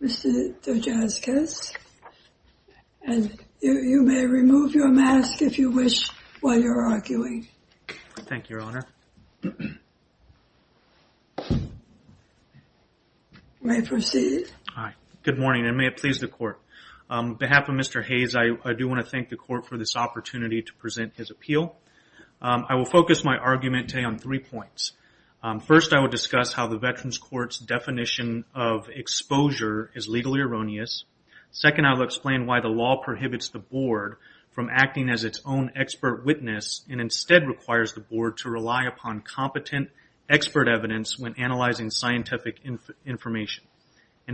Mr. Dujanskis, you may remove your mask if you wish while you're arguing. Thank you, Your Honor. You may proceed. Good morning, and may it please the Court. On behalf of Mr. Hayes, I do want to thank the Court for this opportunity to present his appeal. I will focus my argument today on three points. First, I will discuss how the Veterans Court's definition of exposure is legally erroneous. Second, I will explain why the law prohibits the Board from acting as its own expert witness and instead requires the Board to rely upon competent expert evidence when analyzing scientific information.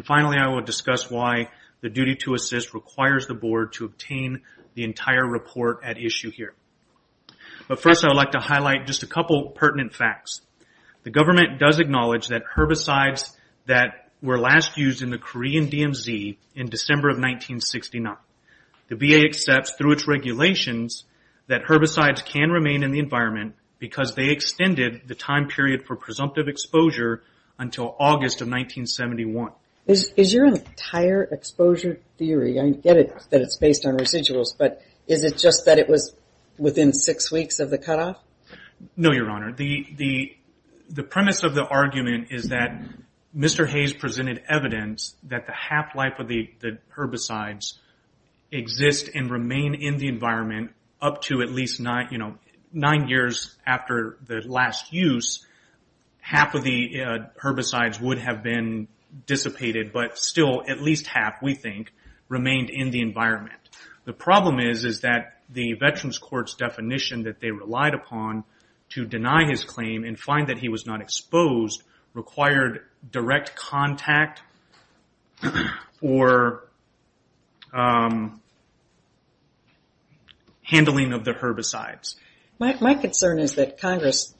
Finally, I will discuss why the duty to assist requires the Board to obtain the entire report at issue here. First, I would like to highlight just a couple pertinent facts. The government does acknowledge that herbicides that were last used in the Korean DMZ in December of 1969, the VA accepts through its regulations that herbicides can remain in the environment because they extended the time period for presumptive exposure until August of 1971. Is your entire exposure theory, I get it that it's based on residuals, but is it just that it was within six weeks of the cutoff? No, Your Honor. The premise of the argument is that Mr. Hayes presented evidence that the half-life of the herbicides exist and remain in the environment up to at least nine years after the last use. Half of the herbicides would have been dissipated, but still at least half, we think, remained in the environment. The problem is that the Veterans Court's definition that they relied upon to deny his claim and find that he was not exposed required direct contact or handling of the herbicides. My concern is that Congress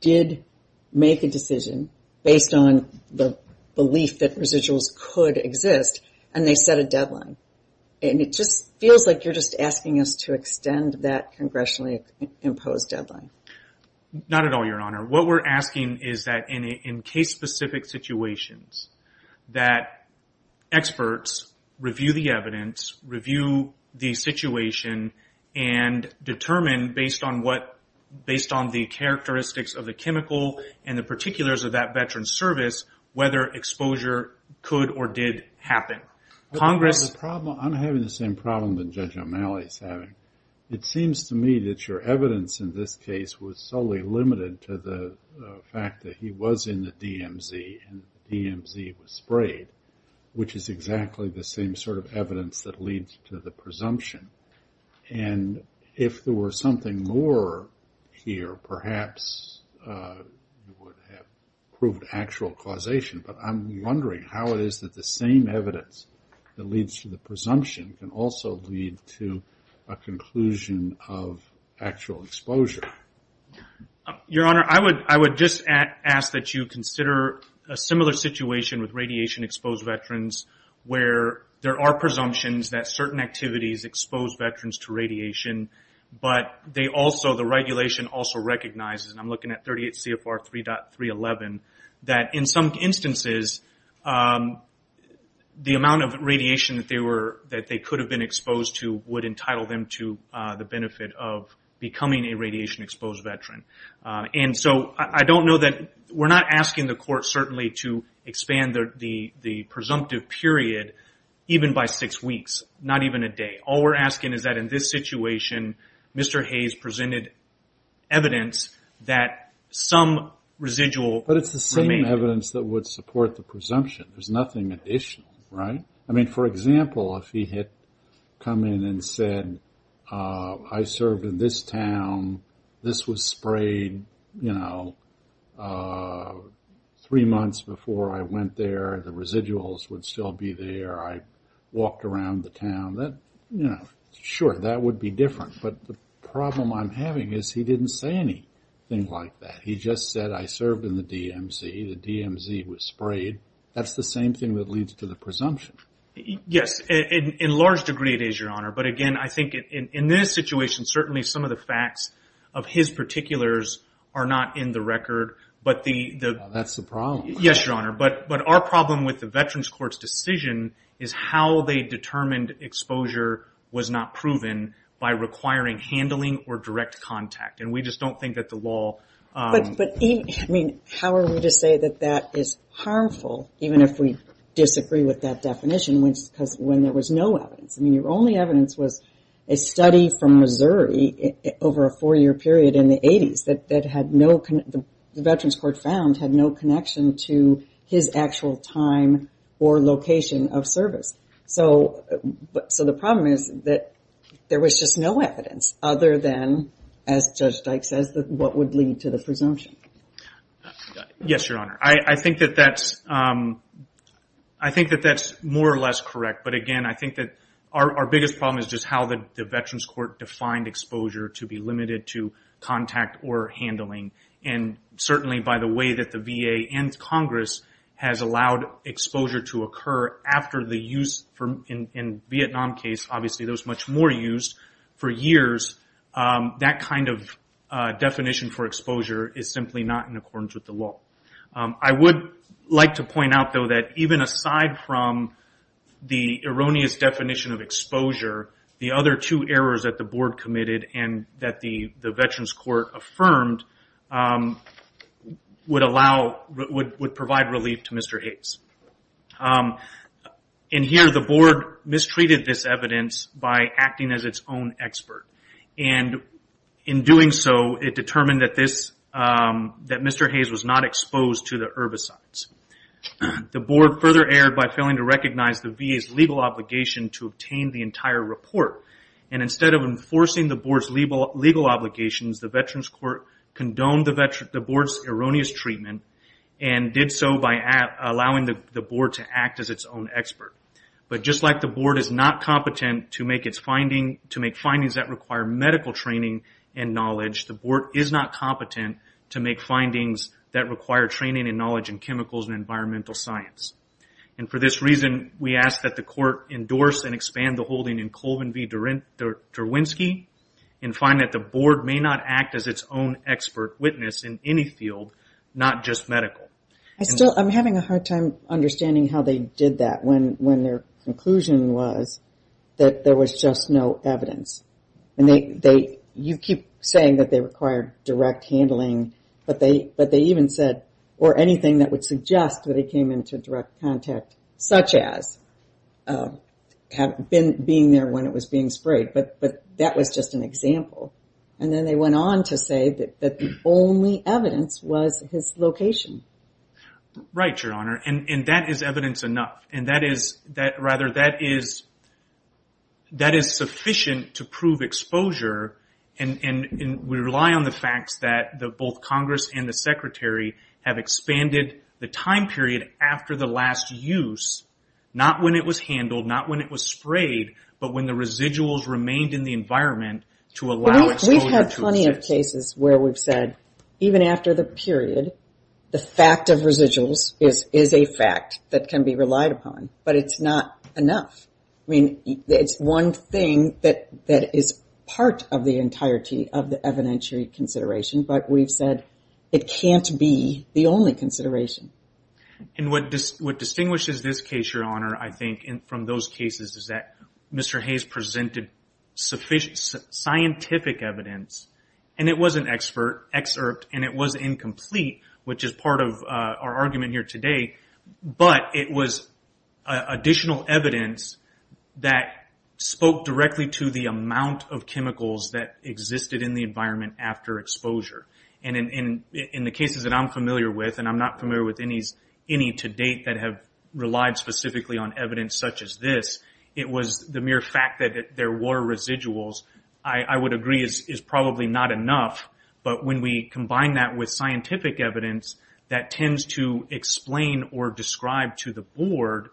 did make a decision based on the belief that residuals could exist, and they set a deadline. And it just feels like you're just asking us to extend that congressionally imposed deadline. Not at all, Your Honor. What we're asking is that in case-specific situations that experts review the evidence, review the situation, and determine based on the characteristics of the chemical and the particulars of that veteran's service whether exposure could or did happen. I'm having the same problem that Judge O'Malley is having. It seems to me that your evidence in this case was solely limited to the fact that he was in the DMZ and the DMZ was sprayed, which is exactly the same sort of evidence that leads to the presumption. And if there was something more here, perhaps you would have proved actual causation. But I'm wondering how it is that the same evidence that leads to the presumption can also lead to a conclusion of actual exposure. Your Honor, I would just ask that you consider a similar situation with radiation-exposed veterans where there are presumptions that certain activities expose veterans to radiation, but the regulation also recognizes, and I'm looking at 38 CFR 3.311, that in some instances the amount of radiation that they could have been exposed to would entitle them to the benefit of becoming a radiation-exposed veteran. And so I don't know that... We're not asking the court certainly to expand the presumptive period even by six weeks, not even a day. All we're asking is that in this situation Mr. Hayes presented evidence that some residual... But it's the same evidence that would support the presumption. There's nothing additional, right? I mean, for example, if he had come in and said, I served in this town, this was sprayed three months before I went there, the residuals would still be there, I walked around the town. Sure, that would be different. But the problem I'm having is he didn't say anything like that. He just said, I served in the DMZ, the DMZ was sprayed. That's the same thing that leads to the presumption. Yes, in large degree it is, Your Honor. But again, I think in this situation certainly some of the facts of his particulars are not in the record. That's the problem. Yes, Your Honor. But our problem with the Veterans Court's decision is how they determined exposure was not proven by requiring handling or direct contact. And we just don't think that the law... But how are we to say that that is harmful even if we disagree with that definition when there was no evidence? I mean, your only evidence was a study from Missouri over a four-year period in the 80s that the Veterans Court found had no connection to his actual time or location of service. So the problem is that there was just no evidence other than, as Judge Dyke says, what would lead to the presumption. Yes, Your Honor. I think that that's more or less correct. But again, I think that our biggest problem is just how the Veterans Court defined exposure to be limited to contact or handling. And certainly by the way that the VA and Congress has allowed exposure to occur after the use in the Vietnam case, obviously there was much more use for years, that kind of definition for exposure is simply not in accordance with the law. I would like to point out, though, that even aside from the erroneous definition of exposure, the other two errors that the Board committed and that the Veterans Court affirmed would provide relief to Mr. Hayes. And here the Board mistreated this evidence by acting as its own expert. And in doing so, it determined that Mr. Hayes was not exposed to the herbicides. The Board further erred by failing to recognize the VA's legal obligation to obtain the entire report. And instead of enforcing the Board's legal obligations, the Veterans Court condoned the Board's erroneous treatment and did so by allowing the Board to act as its own expert. But just like the Board is not competent to make findings that require medical training and knowledge, the Board is not competent to make findings that require training and knowledge in chemicals and environmental science. And for this reason, we ask that the Court endorse and expand the holding in Colvin v. Derwinski and find that the Board may not act as its own expert witness in any field, not just medical. I'm having a hard time understanding how they did that when their conclusion was that there was just no evidence. And you keep saying that they required direct handling, but they even said, or anything that would suggest that he came into direct contact, such as being there when it was being sprayed. But that was just an example. And then they went on to say that the only evidence was his location. Right, Your Honor. And that is evidence enough. Rather, that is sufficient to prove exposure. And we rely on the facts that both Congress and the Secretary have expanded the time period after the last use, not when it was handled, not when it was sprayed, but when the residuals remained in the environment to allow exposure to exist. We've had plenty of cases where we've said, even after the period, the fact of residuals is a fact that can be relied upon, but it's not enough. I mean, it's one thing that is part of the entirety of the evidentiary consideration, but we've said it can't be the only consideration. And what distinguishes this case, Your Honor, I think, from those cases, is that Mr. Hayes presented scientific evidence, and it was an excerpt, and it was incomplete, which is part of our argument here today, but it was additional evidence that spoke directly to the amount of chemicals that existed in the environment after exposure. And in the cases that I'm familiar with, and I'm not familiar with any to date that have relied specifically on evidence such as this, it was the mere fact that there were residuals, I would agree, is probably not enough. But when we combine that with scientific evidence that tends to explain or describe to the Board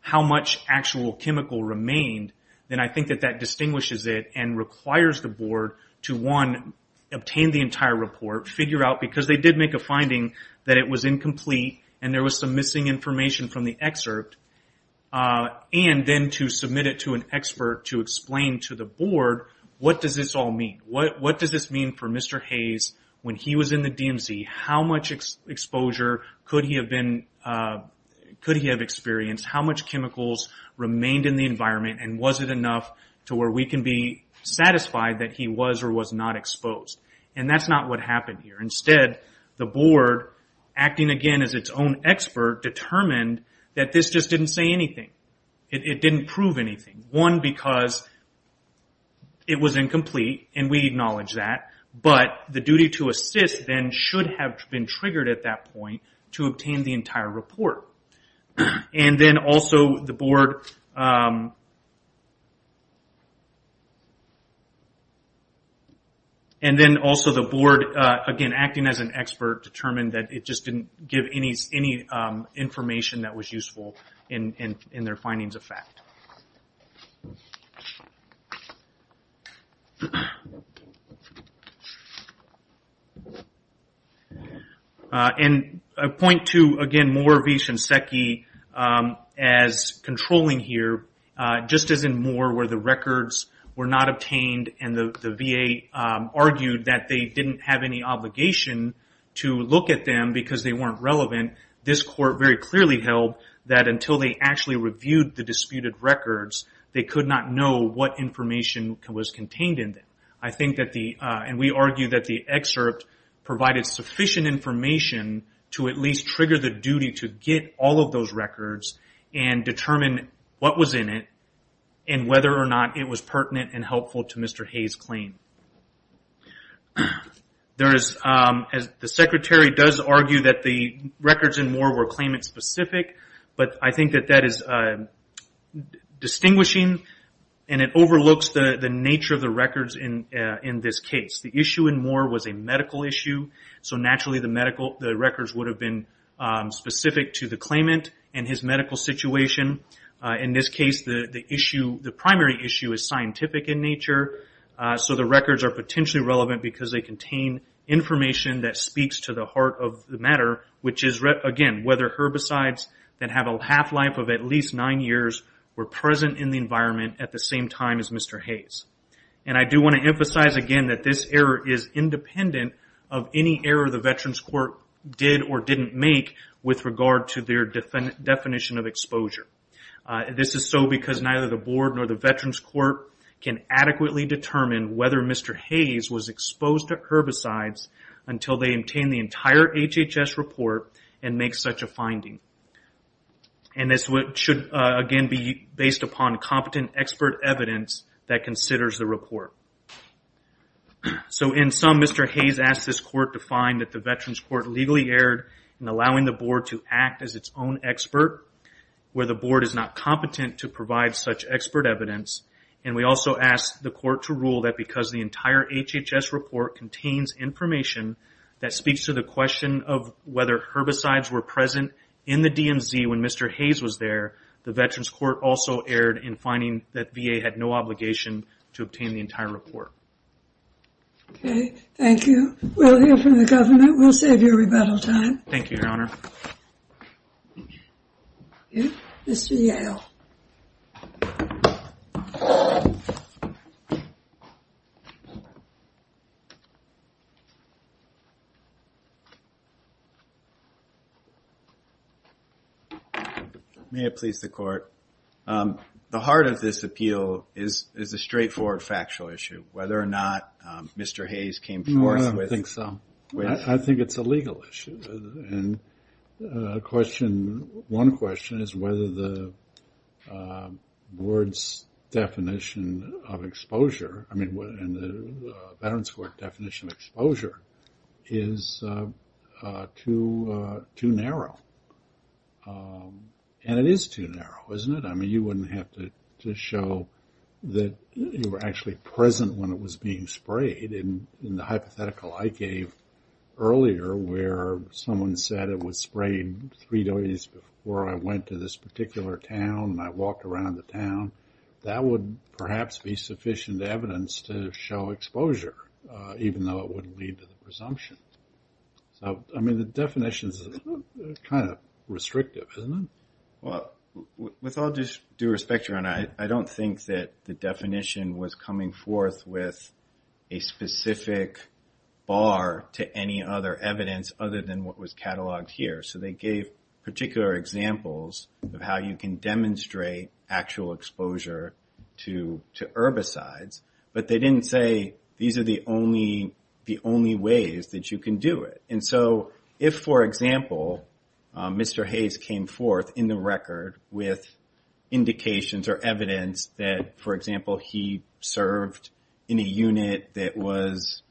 how much actual chemical remained, then I think that that distinguishes it and requires the Board to, one, obtain the entire report, figure out, because they did make a finding that it was incomplete and there was some missing information from the excerpt, and then to submit it to an expert to explain to the Board what does this all mean. What does this mean for Mr. Hayes when he was in the DMZ? How much exposure could he have experienced? How much chemicals remained in the environment? And was it enough to where we can be satisfied that he was or was not exposed? And that's not what happened here. Instead, the Board, acting again as its own expert, determined that this just didn't say anything. It didn't prove anything. One, because it was incomplete, and we acknowledge that, but the duty to assist then should have been triggered at that point to obtain the entire report. And then also the Board, again, acting as an expert, determined that it just didn't give any information that was useful in their findings of fact. And a point to, again, Moore v. Shinseki as controlling here, just as in Moore where the records were not obtained and the VA argued that they didn't have any obligation to look at them because they weren't relevant, this court very clearly held that until they actually reviewed the disputed records, they could not know what information was contained in them. And we argue that the excerpt provided sufficient information to at least trigger the duty to get all of those records and determine what was in it and whether or not it was pertinent and helpful to Mr. Hayes' claim. The Secretary does argue that the records in Moore were claimant-specific, but I think that that is distinguishing and it overlooks the nature of the records in this case. The issue in Moore was a medical issue, so naturally the records would have been specific to the claimant and his medical situation. In this case, the primary issue is scientific in nature, so the records are potentially relevant because they contain information that speaks to the heart of the matter, which is, again, whether herbicides that have a half-life of at least nine years were present in the environment at the same time as Mr. Hayes. And I do want to emphasize again that this error is independent of any error the Veterans Court did or didn't make with regard to their definition of exposure. This is so because neither the Board nor the Veterans Court can adequately determine whether Mr. Hayes was exposed to herbicides until they obtain the entire HHS report and make such a finding. And this should, again, be based upon competent expert evidence that considers the report. So in sum, Mr. Hayes asked this Court to find that the Veterans Court legally erred in allowing the Board to act as its own expert, where the Board is not competent to provide such expert evidence, and we also asked the Court to rule that because the entire HHS report contains information that speaks to the question of whether herbicides were present in the DMZ when Mr. Hayes was there, the Veterans Court also erred in finding that VA had no obligation to obtain the entire report. Okay. Thank you. We'll hear from the government. We'll save you rebuttal time. Thank you, Your Honor. Mr. Yale. May it please the Court. The heart of this appeal is a straightforward factual issue, whether or not Mr. Hayes came forth with... I think it's a legal issue. And one question is whether the Board's definition of exposure, I mean, the Veterans Court definition of exposure is too narrow. And it is too narrow, isn't it? I mean, you wouldn't have to show that you were actually present when it was being sprayed in the hypothetical I gave earlier where someone said it was sprayed three days before I went to this particular town and I walked around the town. That would perhaps be sufficient evidence to show exposure, even though it wouldn't lead to the presumption. So, I mean, the definition is kind of restrictive, isn't it? With all due respect, Your Honor, I don't think that the definition was coming forth with a specific bar to any other evidence other than what was cataloged here. So they gave particular examples of how you can demonstrate actual exposure to herbicides, but they didn't say these are the only ways that you can do it. And so if, for example, Mr. Hayes came forth in the record with indications or evidence that, for example, he served in a unit that was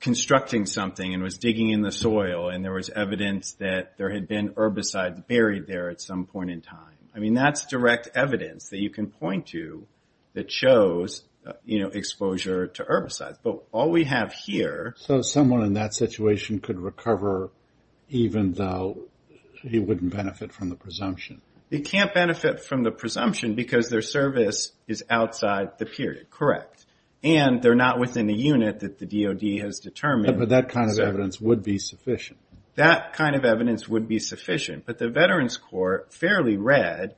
constructing something and was digging in the soil and there was evidence that there had been herbicides buried there at some point in time. I mean, that's direct evidence that you can point to that shows exposure to herbicides. But all we have here. So someone in that situation could recover even though he wouldn't benefit from the presumption. They can't benefit from the presumption because their service is outside the period. Correct. And they're not within the unit that the DOD has determined. But that kind of evidence would be sufficient. That kind of evidence would be sufficient. But the Veterans Court fairly read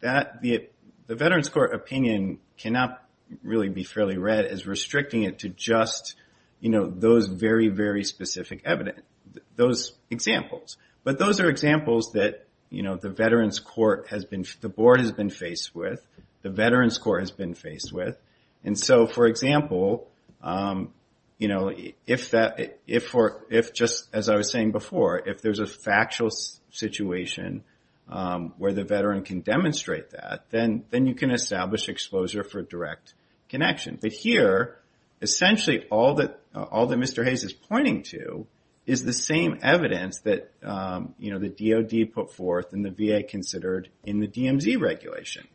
that the Veterans Court opinion cannot really be fairly read as restricting it to just, you know, those very, very specific evidence, those examples. But those are examples that, you know, the Veterans Court has been the board has been faced with, the Veterans Court has been faced with. And so, for example, you know, if just as I was saying before, if there's a factual situation where the Veteran can demonstrate that, then you can establish exposure for direct connection. But here, essentially, all that Mr. Hayes is pointing to is the same evidence that, you know, the DOD put forth and the VA considered in the DMZ regulation.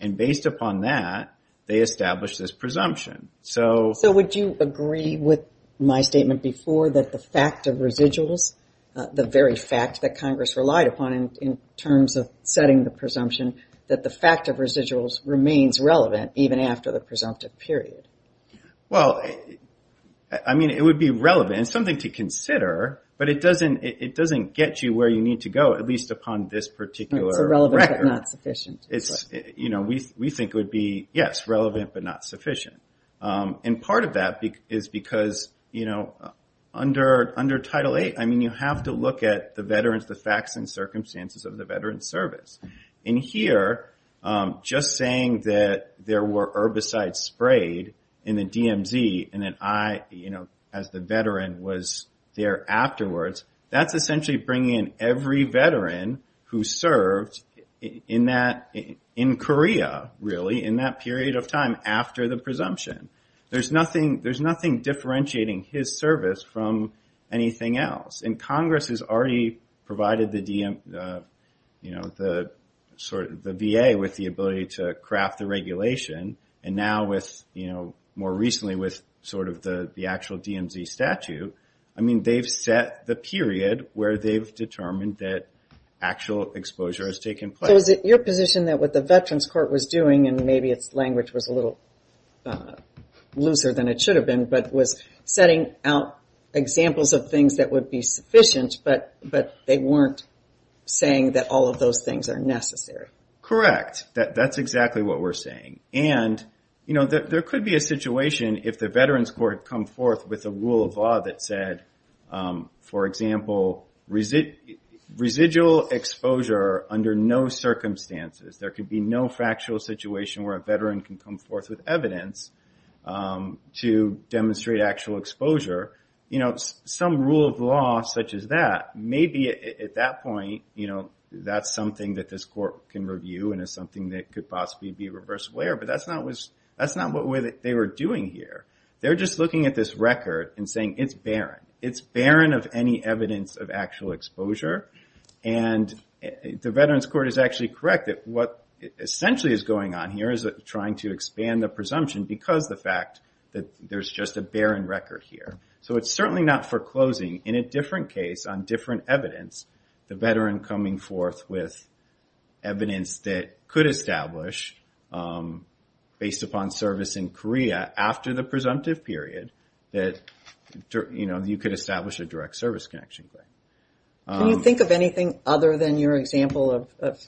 And based upon that, they established this presumption. So would you agree with my statement before that the fact of residuals, the very fact that Congress relied upon in terms of setting the presumption, that the fact of residuals remains relevant even after the presumptive period? Well, I mean, it would be relevant and something to consider, but it doesn't get you where you need to go, at least upon this particular record. You know, we think it would be, yes, relevant, but not sufficient. And part of that is because, you know, under Title VIII, I mean, you have to look at the Veterans, the facts and circumstances of the Veterans service. And here, just saying that there were herbicides sprayed in the DMZ, and then I, you know, as the Veteran was there afterwards, that's essentially bringing in every Veteran who served in that, in Korea, really, in that period of time after the presumption. There's nothing, there's nothing differentiating his service from anything else. And Congress has already provided the, you know, the VA with the ability to craft the regulation. And now with, you know, more recently with sort of the actual DMZ statute, I mean, they've set the period where they've determined that actual exposure has taken place. So is it your position that what the Veterans Court was doing, and maybe its language was a little looser than it should have been, but was setting out examples of things that would be sufficient, but they weren't saying that all of those things are necessary? Correct. That's exactly what we're saying. And, you know, there could be a situation if the Veterans Court come forth with a rule of law that said, for example, residual exposure under no circumstances. There could be no factual situation where a Veteran can come forth with evidence to demonstrate actual exposure. You know, some rule of law such as that, maybe at that point, you know, that's something that this court can review and is something that could possibly be a reverse layer. But that's not what they were doing here. They're just looking at this record and saying it's barren. It's barren of any evidence of actual exposure. And the Veterans Court is actually correct that what essentially is going on here is trying to expand the presumption because the fact that there's just a barren record here. So it's certainly not foreclosing. In a different case, on different evidence, the Veteran coming forth with evidence that could establish based upon service in Korea after the presumptive period that, you know, you could establish a direct service connection. Can you think of anything other than your example of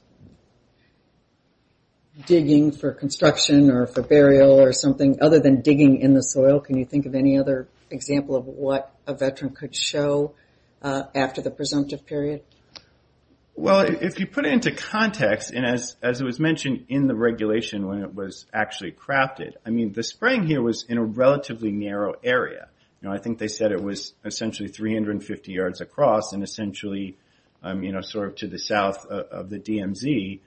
digging for construction or for burial or something other than digging in the soil? Can you think of any other example of what a Veteran could show after the presumptive period? Well, if you put it into context, and as it was mentioned in the regulation when it was actually crafted, I mean, the spraying here was in a relatively narrow area. You know, I think they said it was essentially 350 yards across and essentially, you know, sort of to the south of the DMZ.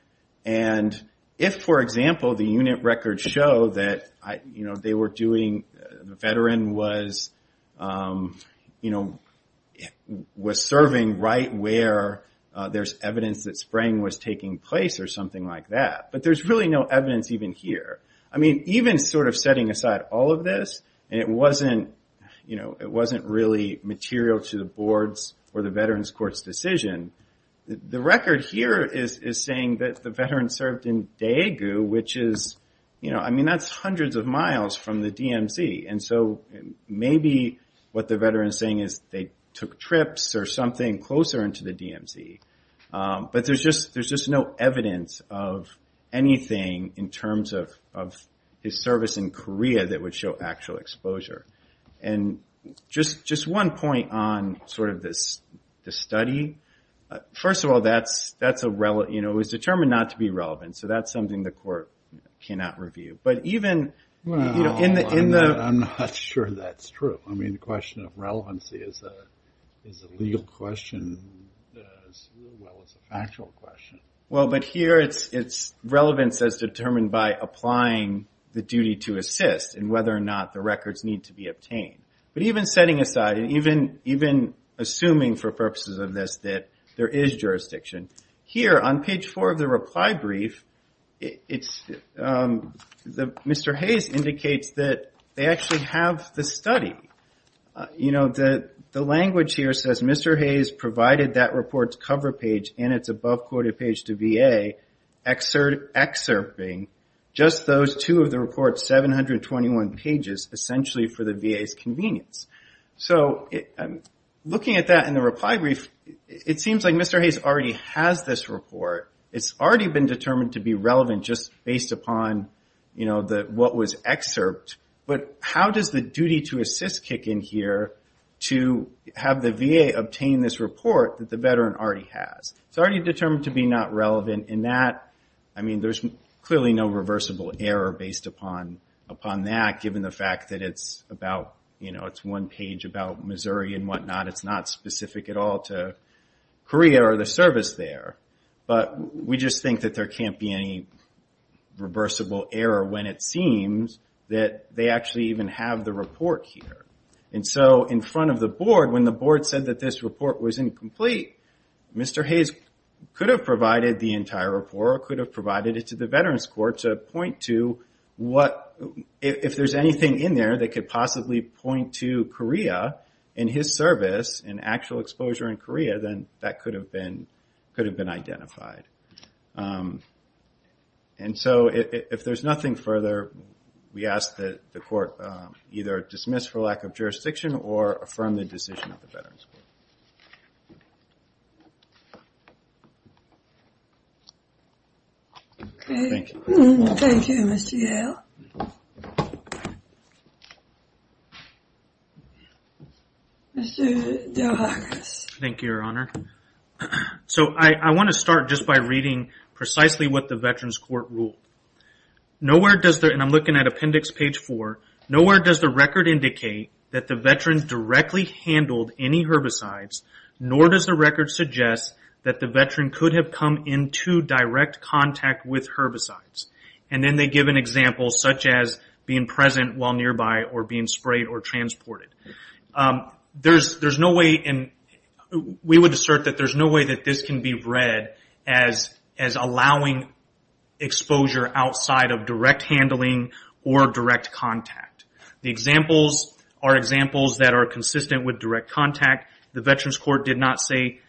And if, for example, the unit records show that, you know, they were doing, the Veteran was, you know, was serving right where there's evidence that spraying was taking place or something like that. But there's really no evidence even here. I mean, even sort of setting aside all of this, and it wasn't, you know, it wasn't really material to the boards or the Veterans Court's decision, the record here is saying that the Veteran served in Daegu, which is, you know, I mean, that's hundreds of miles from the DMZ. And so maybe what the Veteran is saying is they took trips or something closer into the DMZ. But there's just no evidence of anything in terms of his service in Korea that would show actual exposure. And just one point on sort of this study. First of all, that's a, you know, it was determined not to be relevant. So that's something the court cannot review. But even, you know, in the... I'm not sure that's true. I mean, the question of relevancy is a legal question as well as a factual question. Well, but here it's relevance as determined by applying the duty to assist and whether or not the records need to be obtained. But even setting aside and even assuming for purposes of this that there is jurisdiction. Here on page four of the reply brief, it's... Mr. Hayes indicates that they actually have the study. You know, the language here says Mr. Hayes provided that report's cover page and its above quoted page to VA excerpting just those two of the report's 721 pages essentially for the duration of the study. To the VA's convenience. So looking at that in the reply brief, it seems like Mr. Hayes already has this report. It's already been determined to be relevant just based upon, you know, what was excerpt. But how does the duty to assist kick in here to have the VA obtain this report that the veteran already has? It's already determined to be not relevant in that, I mean, there's clearly no reversible error based upon that given the fact that it's about, you know, it's one page about Missouri and whatnot. It's not specific at all to Korea or the service there. But we just think that there can't be any reversible error when it seems that they actually even have the report here. And so in front of the board, when the board said that this report was incomplete, Mr. Hayes could have provided the entire report or could have provided it to the Veterans Court to point to what, if there's anything in there that could possibly point to Korea and his service and actual exposure in Korea, then that could have been identified. And so if there's nothing further, we ask that the court either dismiss for lack of jurisdiction or affirm the decision of the Veterans Court. Okay. Thank you, Mr. Yale. Mr. Delhagas. Thank you, Your Honor. So I want to start just by reading precisely what the Veterans Court ruled. Nowhere does the, and I'm looking at appendix page four, nowhere does the record indicate that the veteran directly handled any herbicides, nor does the record suggest that the veteran could have come into direct contact with herbicides. And then they give an example such as being present while nearby or being sprayed or transported. There's no way, and we would assert that there's no way that this can be read as allowing exposure outside of direct handling or direct contact. The examples are examples that are consistent with direct contact. The Veterans Court did not say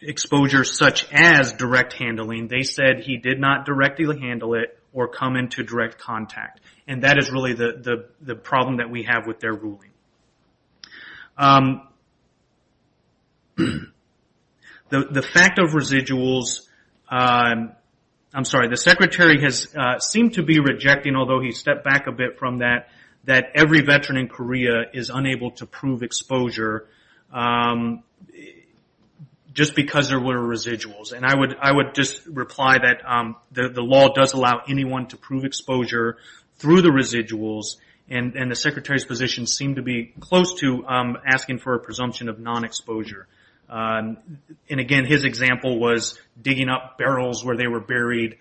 exposure such as direct handling. They said he did not directly handle it or come into direct contact. And that is really the problem that we have with their ruling. The fact of residuals, I'm sorry, the Secretary has seemed to be rejecting, although he stepped back a bit from that, that every veteran in Korea is unable to prove exposure just because there were residuals. And I would just reply that the law does allow anyone to prove exposure through the residuals, and the Secretary's position seemed to be close to asking for a presumption of non-exposure. And again, his example was digging up barrels where they were buried,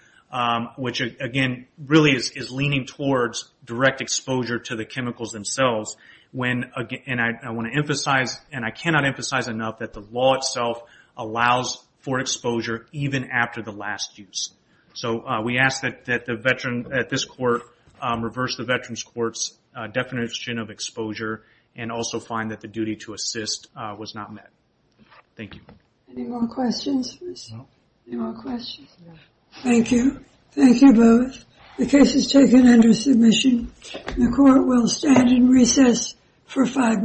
which again, really is leaning towards direct exposure to the chemicals themselves. And I want to emphasize, and I cannot emphasize enough, that the law itself allows for exposure even after the last use. So we ask that the veteran at this court reverse the Veterans Court's definition of exposure and also find that the duty to assist was not met. Thank you. Any more questions? Thank you. Thank you both. The case is taken under submission. The court will stand in recess for five minutes.